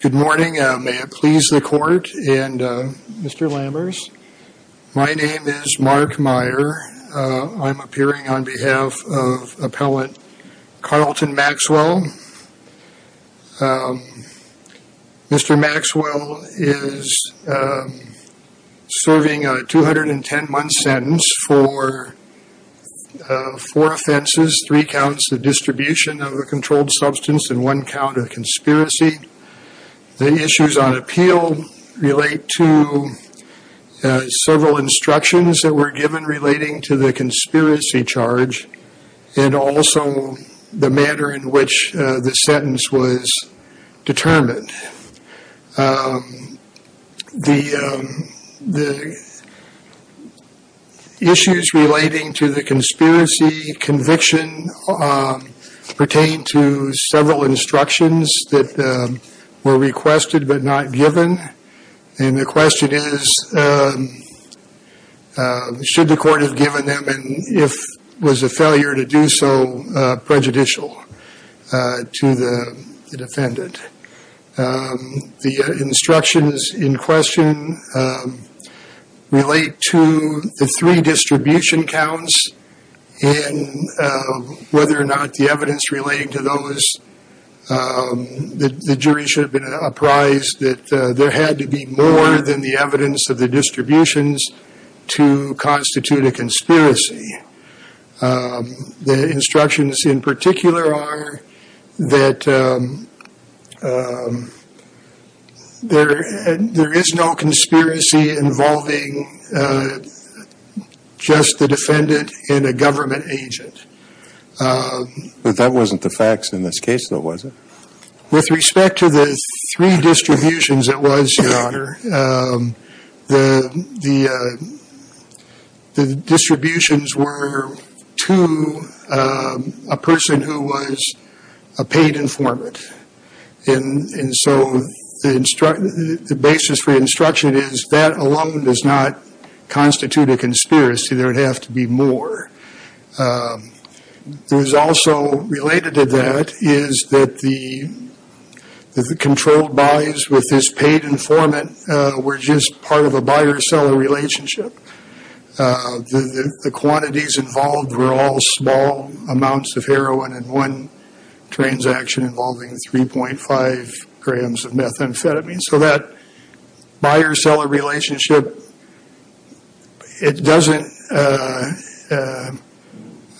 Good morning, may it please the court and Mr. Lammers. My name is Mark Meyer. I'm appearing on behalf of appellant Charleton Maxwell. Mr. Maxwell is serving a 210 month sentence for four offenses, three counts of distribution of a controlled substance and one count of the issues on appeal relate to several instructions that were given relating to the conspiracy charge and also the manner in which the sentence was determined. The issues relating to the conspiracy conviction pertain to several instructions that were requested but not given and the question is should the court have given them and if was a failure to do so prejudicial to the defendant. The instructions in question relate to the three distribution counts and whether or not the evidence relating to those the jury should have been apprised that there had to be more than the evidence of the distributions to constitute a conspiracy. The instructions in particular are that there is no conspiracy involving just the defendant and a government agent. But that wasn't the facts in this case though was it? With respect to the three distributions it was your honor. The distributions were to a person who was a paid informant and so the basis for instruction is that alone does not constitute a conspiracy. It was also related to that is that the controlled buys with this paid informant were just part of a buyer-seller relationship. The quantities involved were all small amounts of heroin and one transaction involving 3.5 grams of methamphetamine. So that does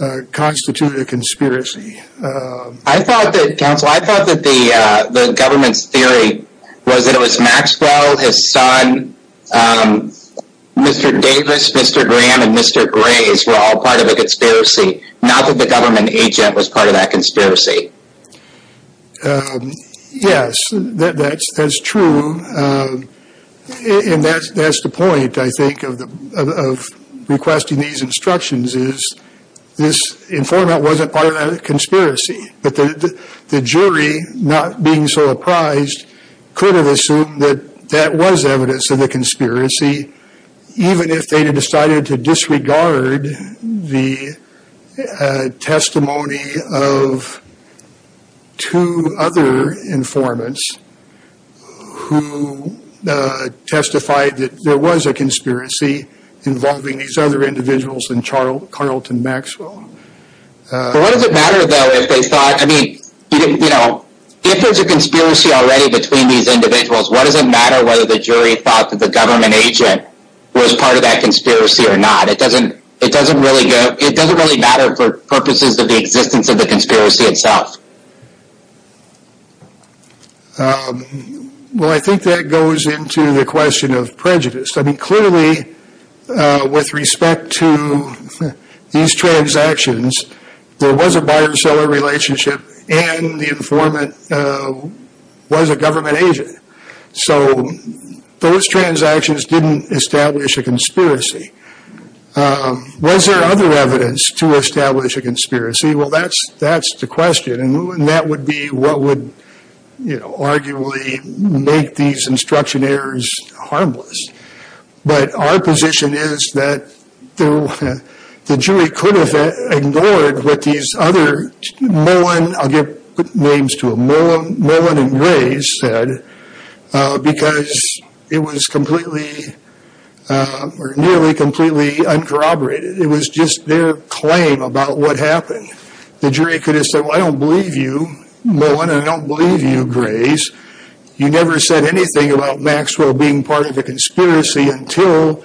not constitute a conspiracy. I thought that the government's theory was that it was Maxwell, his son, Mr. Davis, Mr. Graham, and Mr. Graves were all part of a conspiracy not that the government agent was part of that conspiracy. Yes that's true um and that's that's the point I think of the of requesting these instructions is this informant wasn't part of that conspiracy but the the jury not being so apprised could have assumed that that was evidence of the conspiracy even if they had decided to disregard the testimony of two other informants who testified that there was a conspiracy involving these other individuals and Charlton Maxwell. What does it matter though if they thought I mean you know if there's a conspiracy already between these individuals what does it matter whether the jury thought that the government agent was part of that conspiracy or not it doesn't it doesn't really go it doesn't really matter for purposes of the existence of the conspiracy itself. Well I think that goes into the question of prejudice I mean clearly with respect to these transactions there was a buyer-seller relationship and the informant uh was a government agent so those transactions didn't establish a conspiracy um was there other evidence to establish a conspiracy well that's that's the question and that would be what would you know arguably make these instruction errors harmless but our position is that the jury could have ignored what these other Mullen I'll give names to them Mullen and Grace said because it was completely or nearly completely uncorroborated it was just their claim about what happened the jury could have said well I don't believe you Mullen I don't believe you Grace you never said anything about Maxwell being part of the conspiracy until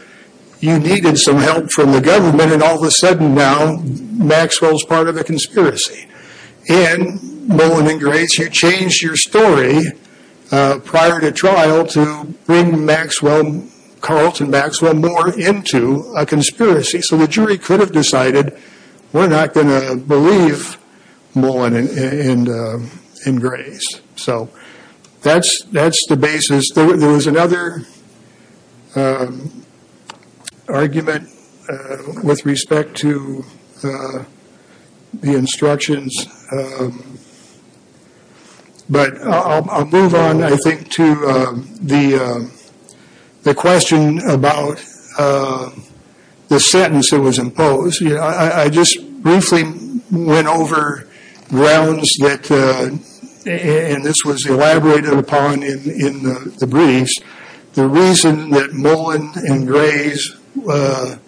you needed some help from the government and all of a sudden now Maxwell's part of the conspiracy and Mullen and Grace you changed your story prior to trial to bring Maxwell Carlton Maxwell more into a conspiracy so the jury could have decided we're not going to believe Mullen and Grace so that's that's the basis there was another argument with respect to the instructions but I'll move on I think to the the question about the sentence that was imposed yeah I just briefly went over grounds that and this was elaborated upon in in the briefs the reason that Mullen and Grace were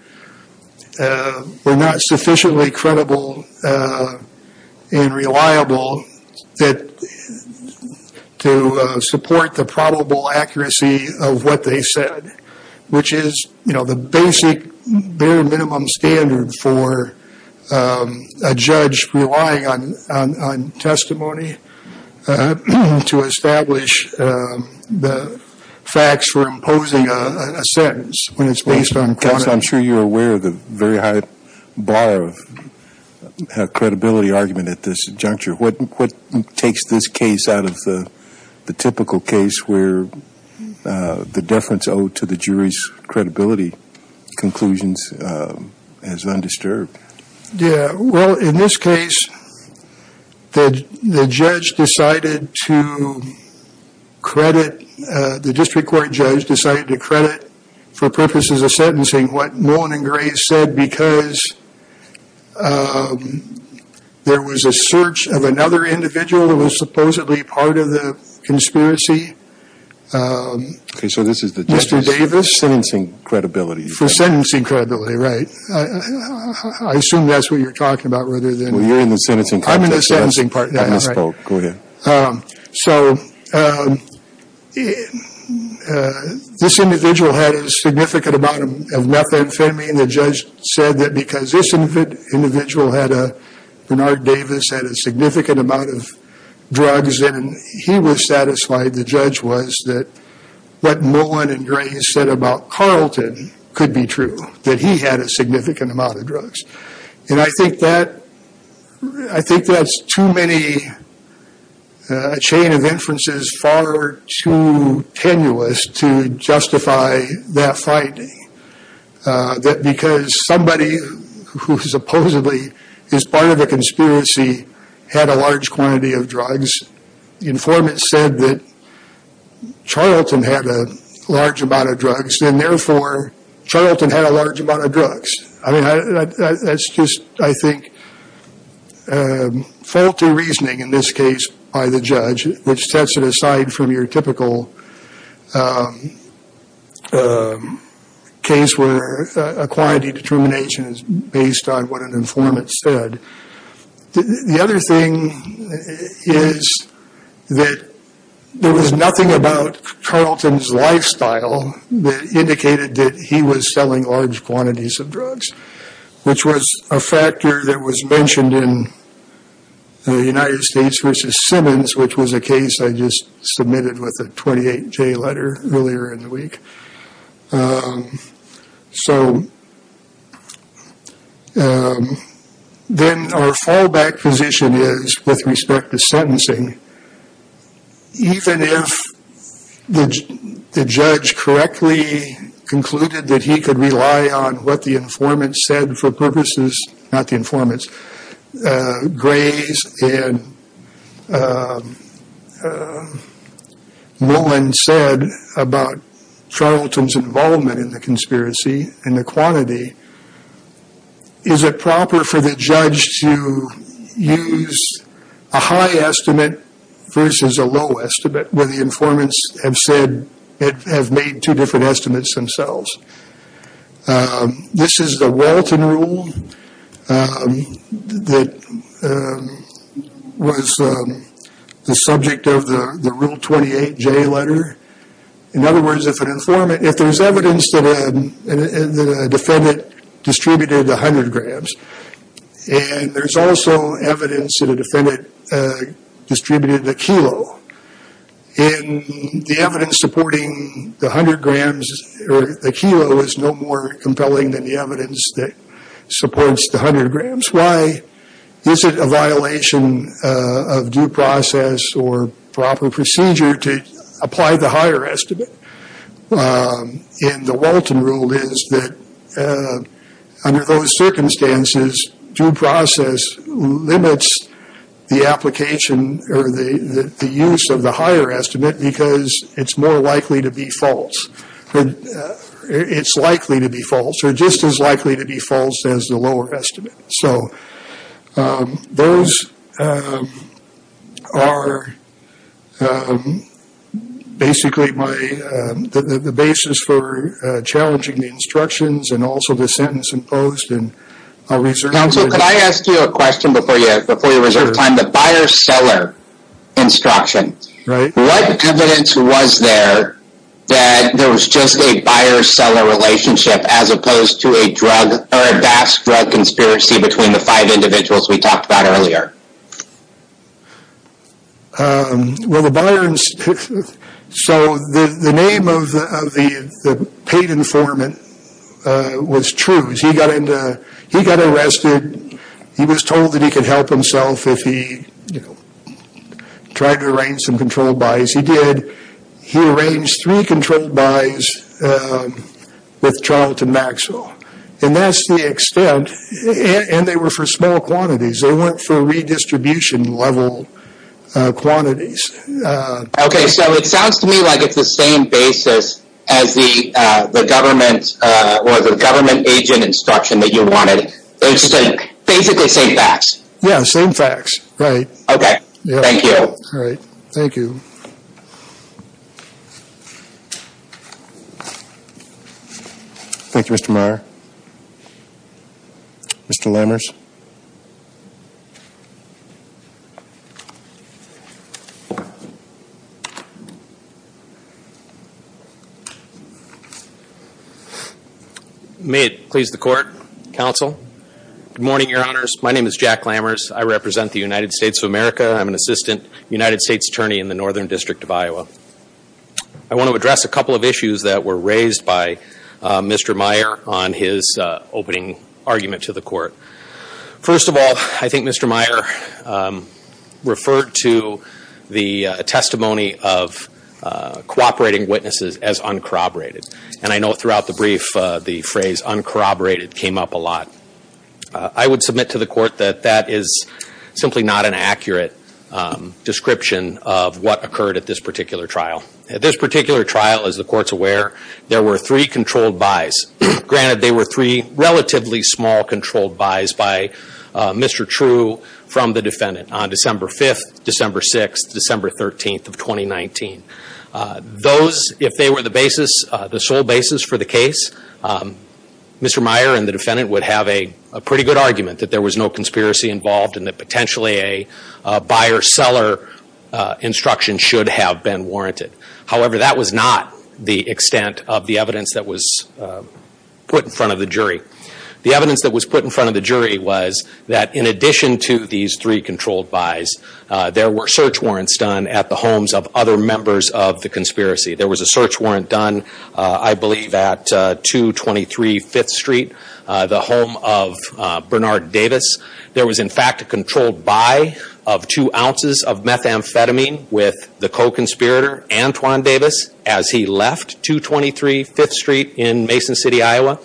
not sufficiently credible and reliable that to support the probable accuracy of what they said which is you know the basic bare minimum standard for a judge relying on testimony to establish the facts for imposing a sentence when it's based on I'm sure you're aware of the very high bar of credibility argument at this juncture what what takes this case out of the the typical case where the deference owed to the jury's yeah well in this case the the judge decided to credit the district court judge decided to credit for purposes of sentencing what Mullen and Grace said because there was a search of another individual that was supposedly part of the I assume that's what you're talking about rather than you're in the sentencing so this individual had a significant amount of methamphetamine the judge said that because this individual had a Bernard Davis had a significant amount of drugs and he was satisfied the judge was that what Mullen and Grace said about Carlton could be true that he had a significant amount of drugs and I think that I think that's too many a chain of inferences far too tenuous to justify that finding that because somebody who supposedly is part of the conspiracy had a large quantity of drugs the informant said that large amount of drugs and therefore Charlton had a large amount of drugs I mean that's just I think faulty reasoning in this case by the judge which sets it aside from your typical case where a quantity determination is based on what an informant said the other thing is that there was nothing about Carlton's lifestyle that indicated that he was selling large quantities of drugs which was a factor that was mentioned in the United States versus Simmons which was a case I just submitted with a 28-j letter earlier in the week so then our fallback position is with respect to sentencing even if the judge correctly concluded that he could rely on what the informant said for purposes not the informants Grace and Mullen said about Charlton's involvement in the conspiracy and the quantity is it proper for the judge to use a high estimate versus a low estimate where the informants have said it have made two different estimates themselves this is the Walton rule that was the subject of the rule 28-j letter in other words if an in the defendant distributed 100 grams and there's also evidence that a defendant distributed the kilo in the evidence supporting the 100 grams or the kilo is no more compelling than the evidence that supports the 100 grams why is it a violation of due process or proper the Walton rule is that under those circumstances due process limits the application or the use of the higher estimate because it's more likely to be false but it's likely to be false or just as challenging the instructions and also the sentence imposed and counsel could I ask you a question before you before you reserve time the buyer-seller instruction right what evidence was there that there was just a buyer-seller relationship as opposed to a drug or a vast drug conspiracy between the five individuals we talked about earlier um well the buyer so the the name of the of the the paid informant uh was true he got into he got arrested he was told that he could help himself if he you know tried to arrange some control buys he did he arranged three controlled buys um with charlton maxwell and that's the level uh quantities uh okay so it sounds to me like it's the same basis as the uh the government uh or the government agent instruction that you wanted they're just basically same facts yeah same facts right okay thank you all right thank you thank you mr meyer mr lammers may it please the court counsel good morning your honors my name is jack lammers i represent the united states of america i'm an assistant united states attorney in the northern district of iowa i want to address a couple of issues that were raised by uh mr meyer on his uh opening argument to the court first of all i think mr meyer um referred to the testimony of uh cooperating witnesses as uncorroborated and i know throughout the brief uh the phrase uncorroborated came up a lot i would submit to the court that that is simply not an accurate description of what occurred at this particular trial at this particular trial as the court's aware there were three controlled buys granted they were three relatively small controlled buys by mr true from the defendant on december 5th december 6th december 13th of 2019 those if they were the basis the sole basis for the case mr meyer and the defendant would have a conspiracy involved and that potentially a buyer seller instruction should have been warranted however that was not the extent of the evidence that was put in front of the jury the evidence that was put in front of the jury was that in addition to these three controlled buys there were search warrants done at the homes of other members of the conspiracy there was a search there was in fact a controlled buy of two ounces of methamphetamine with the co-conspirator antoine davis as he left 223 5th street in mason city iowa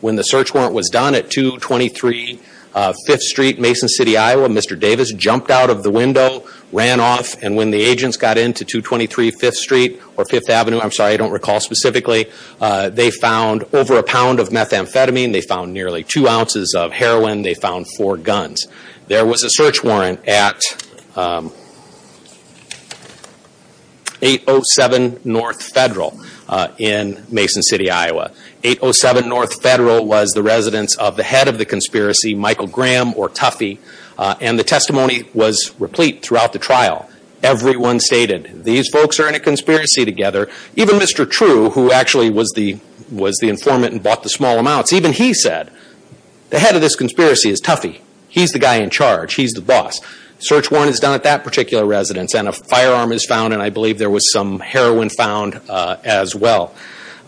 when the search warrant was done at 223 5th street mason city iowa mr davis jumped out of the window ran off and when the agents got into 223 5th street or 5th avenue i'm sorry i don't recall specifically uh they found over a pound of methamphetamine they found nearly two ounces of heroin they found four guns there was a search warrant at um 807 north federal uh in mason city iowa 807 north federal was the residence of the head of the conspiracy michael graham or toughy and the testimony was replete throughout the trial everyone stated these folks are in a conspiracy together even mr true who actually was the was the informant and bought the small amounts even he said the head of this conspiracy is toughy he's the guy in charge he's the boss search warrant is done at that particular residence and a firearm is found and i believe there was some heroin found uh as well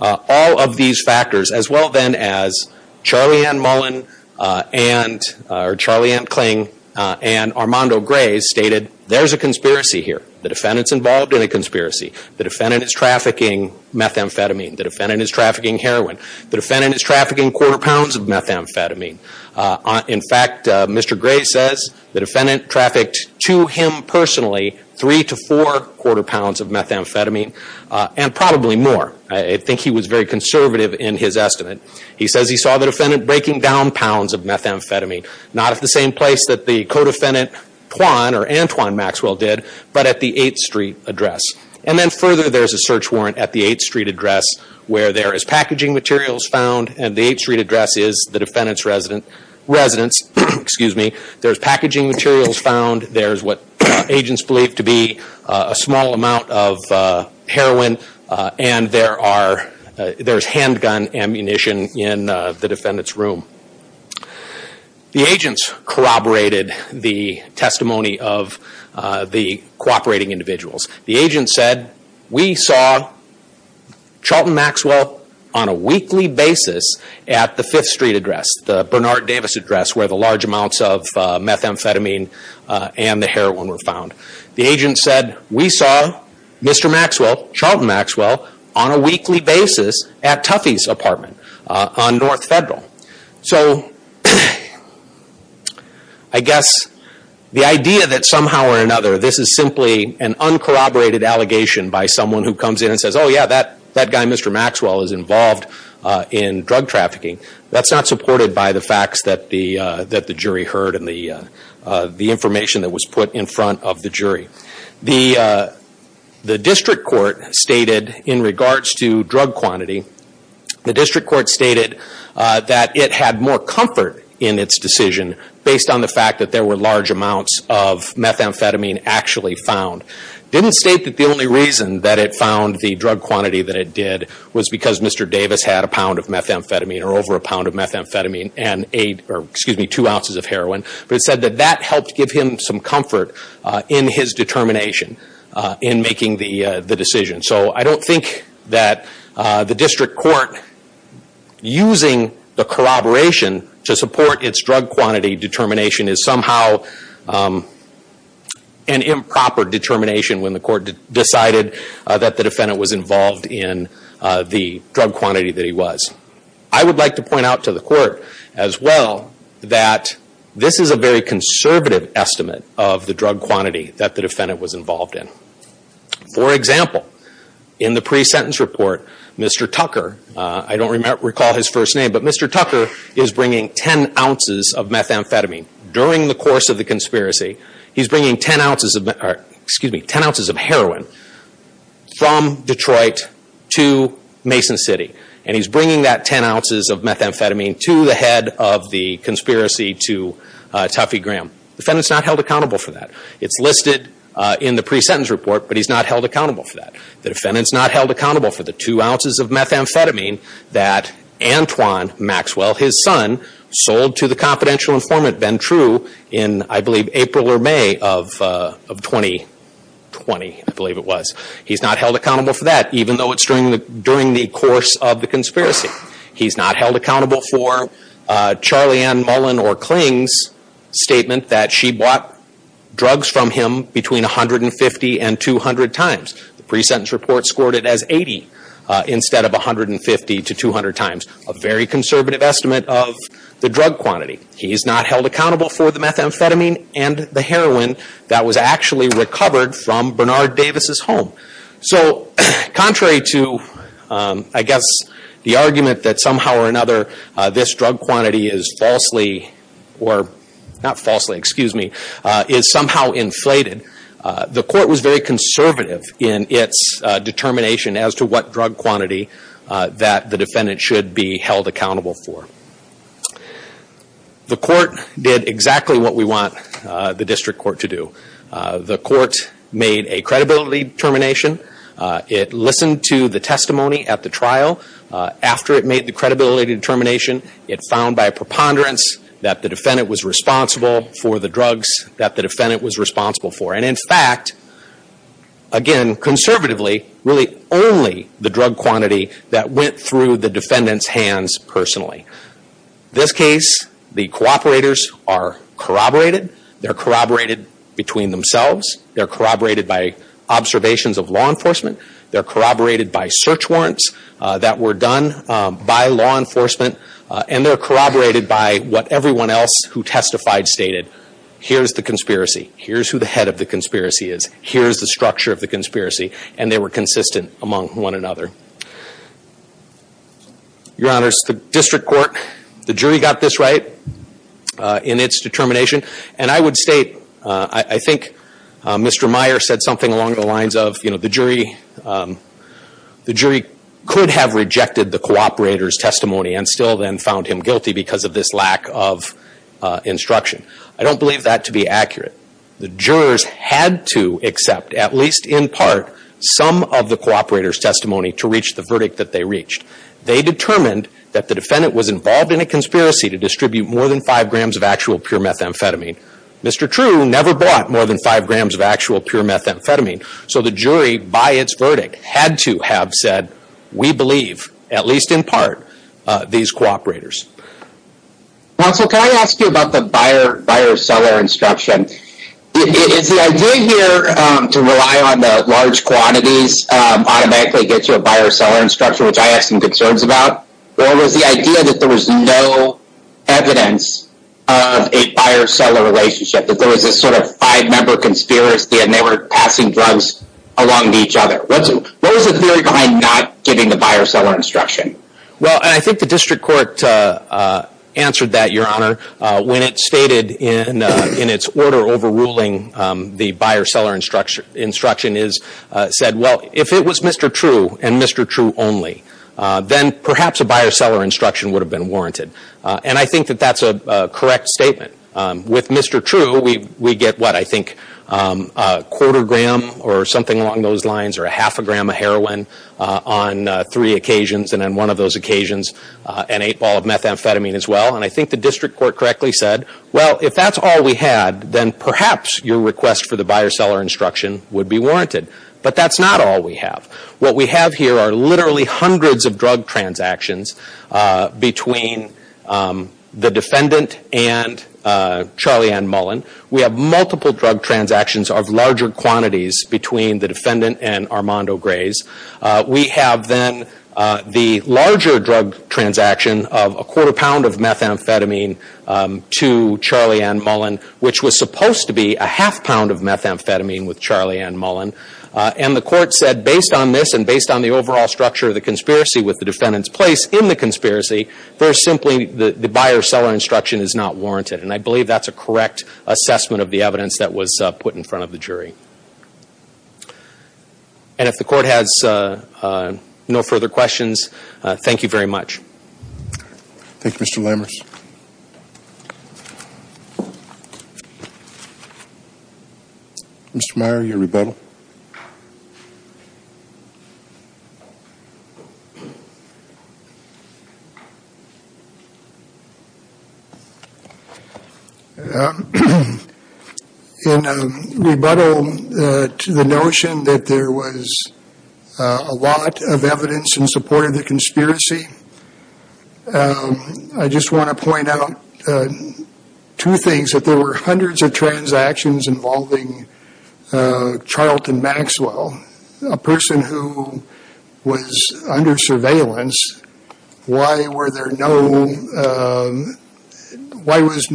uh all of these factors as well then as charlie ann mullen uh and or charlie and cling uh and armando gray stated there's a conspiracy here the defendant's involved in a conspiracy the defendant is trafficking methamphetamine the defendant is trafficking quarter pounds of methamphetamine uh in fact uh mr gray says the defendant trafficked to him personally three to four quarter pounds of methamphetamine uh and probably more i think he was very conservative in his estimate he says he saw the defendant breaking down pounds of methamphetamine not at the same place that the co-defendant tuan or antoine maxwell did but at the 8th street address and then further there's a search warrant at the 8th street address where there is packaging materials found and the 8th street address is the defendant's resident residents excuse me there's packaging materials found there's what agents believe to be a small amount of uh heroin uh and there are there's handgun ammunition in the defendant's room the agents corroborated the testimony of uh the cooperating individuals the agent said we saw charlton maxwell on a weekly basis at the 5th street address the bernard davis address where the large amounts of methamphetamine and the heroin were found the agent said we saw mr maxwell charlton maxwell on a weekly basis at tuffy's apartment on north federal so i guess the idea that somehow or another this is simply an uncorroborated allegation by someone who comes in and says oh yeah that that guy mr maxwell is involved uh in drug trafficking that's not supported by the facts that the uh that the jury heard and the uh the information that was put in front of the jury the uh the district court stated in regards to drug quantity the district court stated uh that it had more comfort in its decision based on the fact that there were large amounts of methamphetamine actually found didn't state that the only reason that it found the drug quantity that it did was because mr davis had a pound of methamphetamine or over a pound of methamphetamine and aid or excuse me two ounces of heroin but it said that that helped give him some comfort uh in his determination uh in making the uh the decision so i don't think that uh the district court using the corroboration to support its drug quantity determination is somehow um an improper determination when the court decided that the defendant was involved in uh the drug quantity that he was i would like to point out to the court as well that this is a very conservative estimate of the drug quantity that the defendant was in the pre-sentence report mr tucker uh i don't recall his first name but mr tucker is bringing 10 ounces of methamphetamine during the course of the conspiracy he's bringing 10 ounces of excuse me 10 ounces of heroin from detroit to mason city and he's bringing that 10 ounces of methamphetamine to the head of the conspiracy to uh toffee graham the defendant's not held accountable for that it's listed uh in the pre-sentence report but he's not held accountable for that the defendant's not held accountable for the two ounces of methamphetamine that antoine maxwell his son sold to the confidential informant ben true in i believe april or may of uh of 2020 i believe it was he's not held accountable for that even though it's during the during the course of the conspiracy he's not held accountable for uh charlie ann mullen or clings statement that she bought drugs from him between 150 and 200 times the pre-sentence report scored it as 80 instead of 150 to 200 times a very conservative estimate of the drug quantity he's not held accountable for the methamphetamine and the heroin that was actually recovered from bernard davis's home so contrary to um i guess the argument that somehow or another this drug quantity is falsely or not falsely excuse me is somehow inflated the court was very conservative in its determination as to what drug quantity that the defendant should be held accountable for the court did exactly what we want the district court to do the court made a credibility determination it listened to the testimony at the trial after it made the credibility determination it found by preponderance that the defendant was responsible for the drugs that the defendant was responsible for and in fact again conservatively really only the drug quantity that went through the defendant's hands personally this case the cooperators are corroborated they're corroborated between themselves they're corroborated by observations of law enforcement they're done by law enforcement and they're corroborated by what everyone else who testified stated here's the conspiracy here's who the head of the conspiracy is here's the structure of the conspiracy and they were consistent among one another your honors the district court the jury got this right in its determination and i would state i i think mr meyer said something along the the cooperators testimony and still then found him guilty because of this lack of instruction i don't believe that to be accurate the jurors had to accept at least in part some of the cooperators testimony to reach the verdict that they reached they determined that the defendant was involved in a conspiracy to distribute more than five grams of actual pure methamphetamine mr true never bought more than five grams of actual pure methamphetamine so the jury by its we believe at least in part uh these cooperators counsel can i ask you about the buyer buyer seller instruction is the idea here um to rely on the large quantities um automatically get you a buyer seller instruction which i have some concerns about or was the idea that there was no evidence of a buyer seller relationship that there was a sort of five member conspiracy and they were passing drugs along to each other what's what was the theory behind not giving the buyer seller instruction well and i think the district court uh uh answered that your honor uh when it stated in uh in its order overruling um the buyer seller instruction instruction is uh said well if it was mr true and mr true only uh then perhaps a buyer seller instruction would have been warranted and i think that that's a correct statement um with mr true we we get what i think um quarter gram or something along those lines or a half a gram of heroin uh on three occasions and on one of those occasions uh an eight ball of methamphetamine as well and i think the district court correctly said well if that's all we had then perhaps your request for the buyer seller instruction would be warranted but that's not all we have what we have here are literally hundreds of drug transactions uh between um the defendant and uh charlie ann mullen we have multiple drug transactions of larger quantities between the defendant and armando grays uh we have then uh the larger drug transaction of a quarter pound of methamphetamine um to charlie ann mullen which was supposed to be a half pound of methamphetamine with charlie ann mullen uh and the court said based on this and based on the overall structure of the conspiracy with the defendant's place in the conspiracy very simply the the buyer seller instruction is not warranted and i believe that's correct assessment of the evidence that was put in front of the jury and if the court has uh no further questions thank you very much thank you mr lemmers um in a rebuttal uh to the notion that there was a lot of evidence in support of the conspiracy i just want to point out two things that there were hundreds of transactions involving uh charlton maxwell a person who was under surveillance why were there no um why was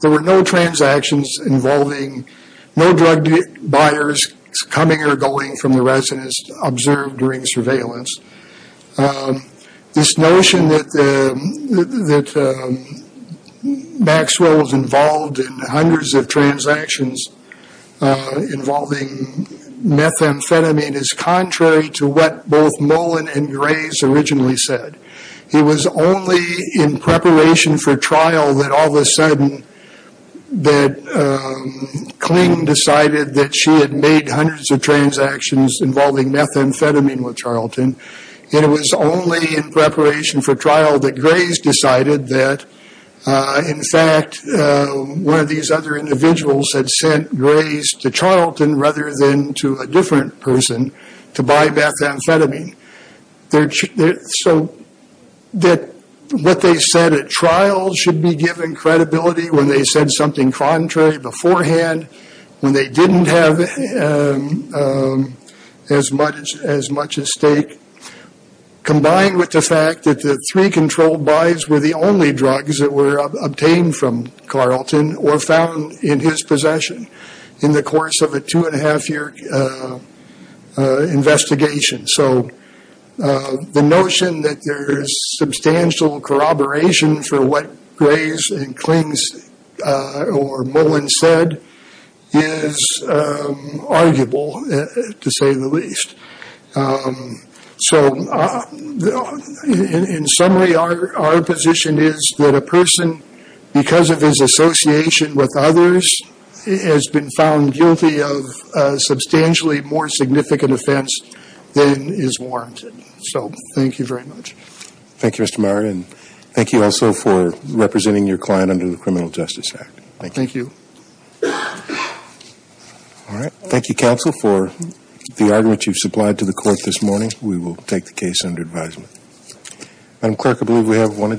there were no transactions involving no drug buyers coming or going from the residence observed during surveillance um this notion that the that maxwell was involved in hundreds of transactions uh involving methamphetamine is contrary to what both mullen and grays originally said he was only in preparation for trial that all of a sudden that cling decided that she had made hundreds of transactions involving methamphetamine with charlton it was only in preparation for trial that grays decided that uh in fact uh one of these other individuals had sent grays to charlton rather than to a different person to buy methamphetamine they're so that what they said at trial should be given credibility when they said something contrary beforehand when they didn't have as much as much as stake combined with the fact that the three controlled buys were the only drugs that were obtained from carlton or found in his possession in the course of a two and a half year investigation so the notion that there is substantial corroboration for what grays and clings uh or mullen said is um arguable to say the least um so in summary our our position is that a person because of his association with others has been found guilty of a substantially more significant offense than is warranted so thank you very much thank you and thank you also for representing your client under the criminal justice act thank you all right thank you counsel for the argument you've supplied to the court this morning we will take the case under advisement madam clerk i believe we have one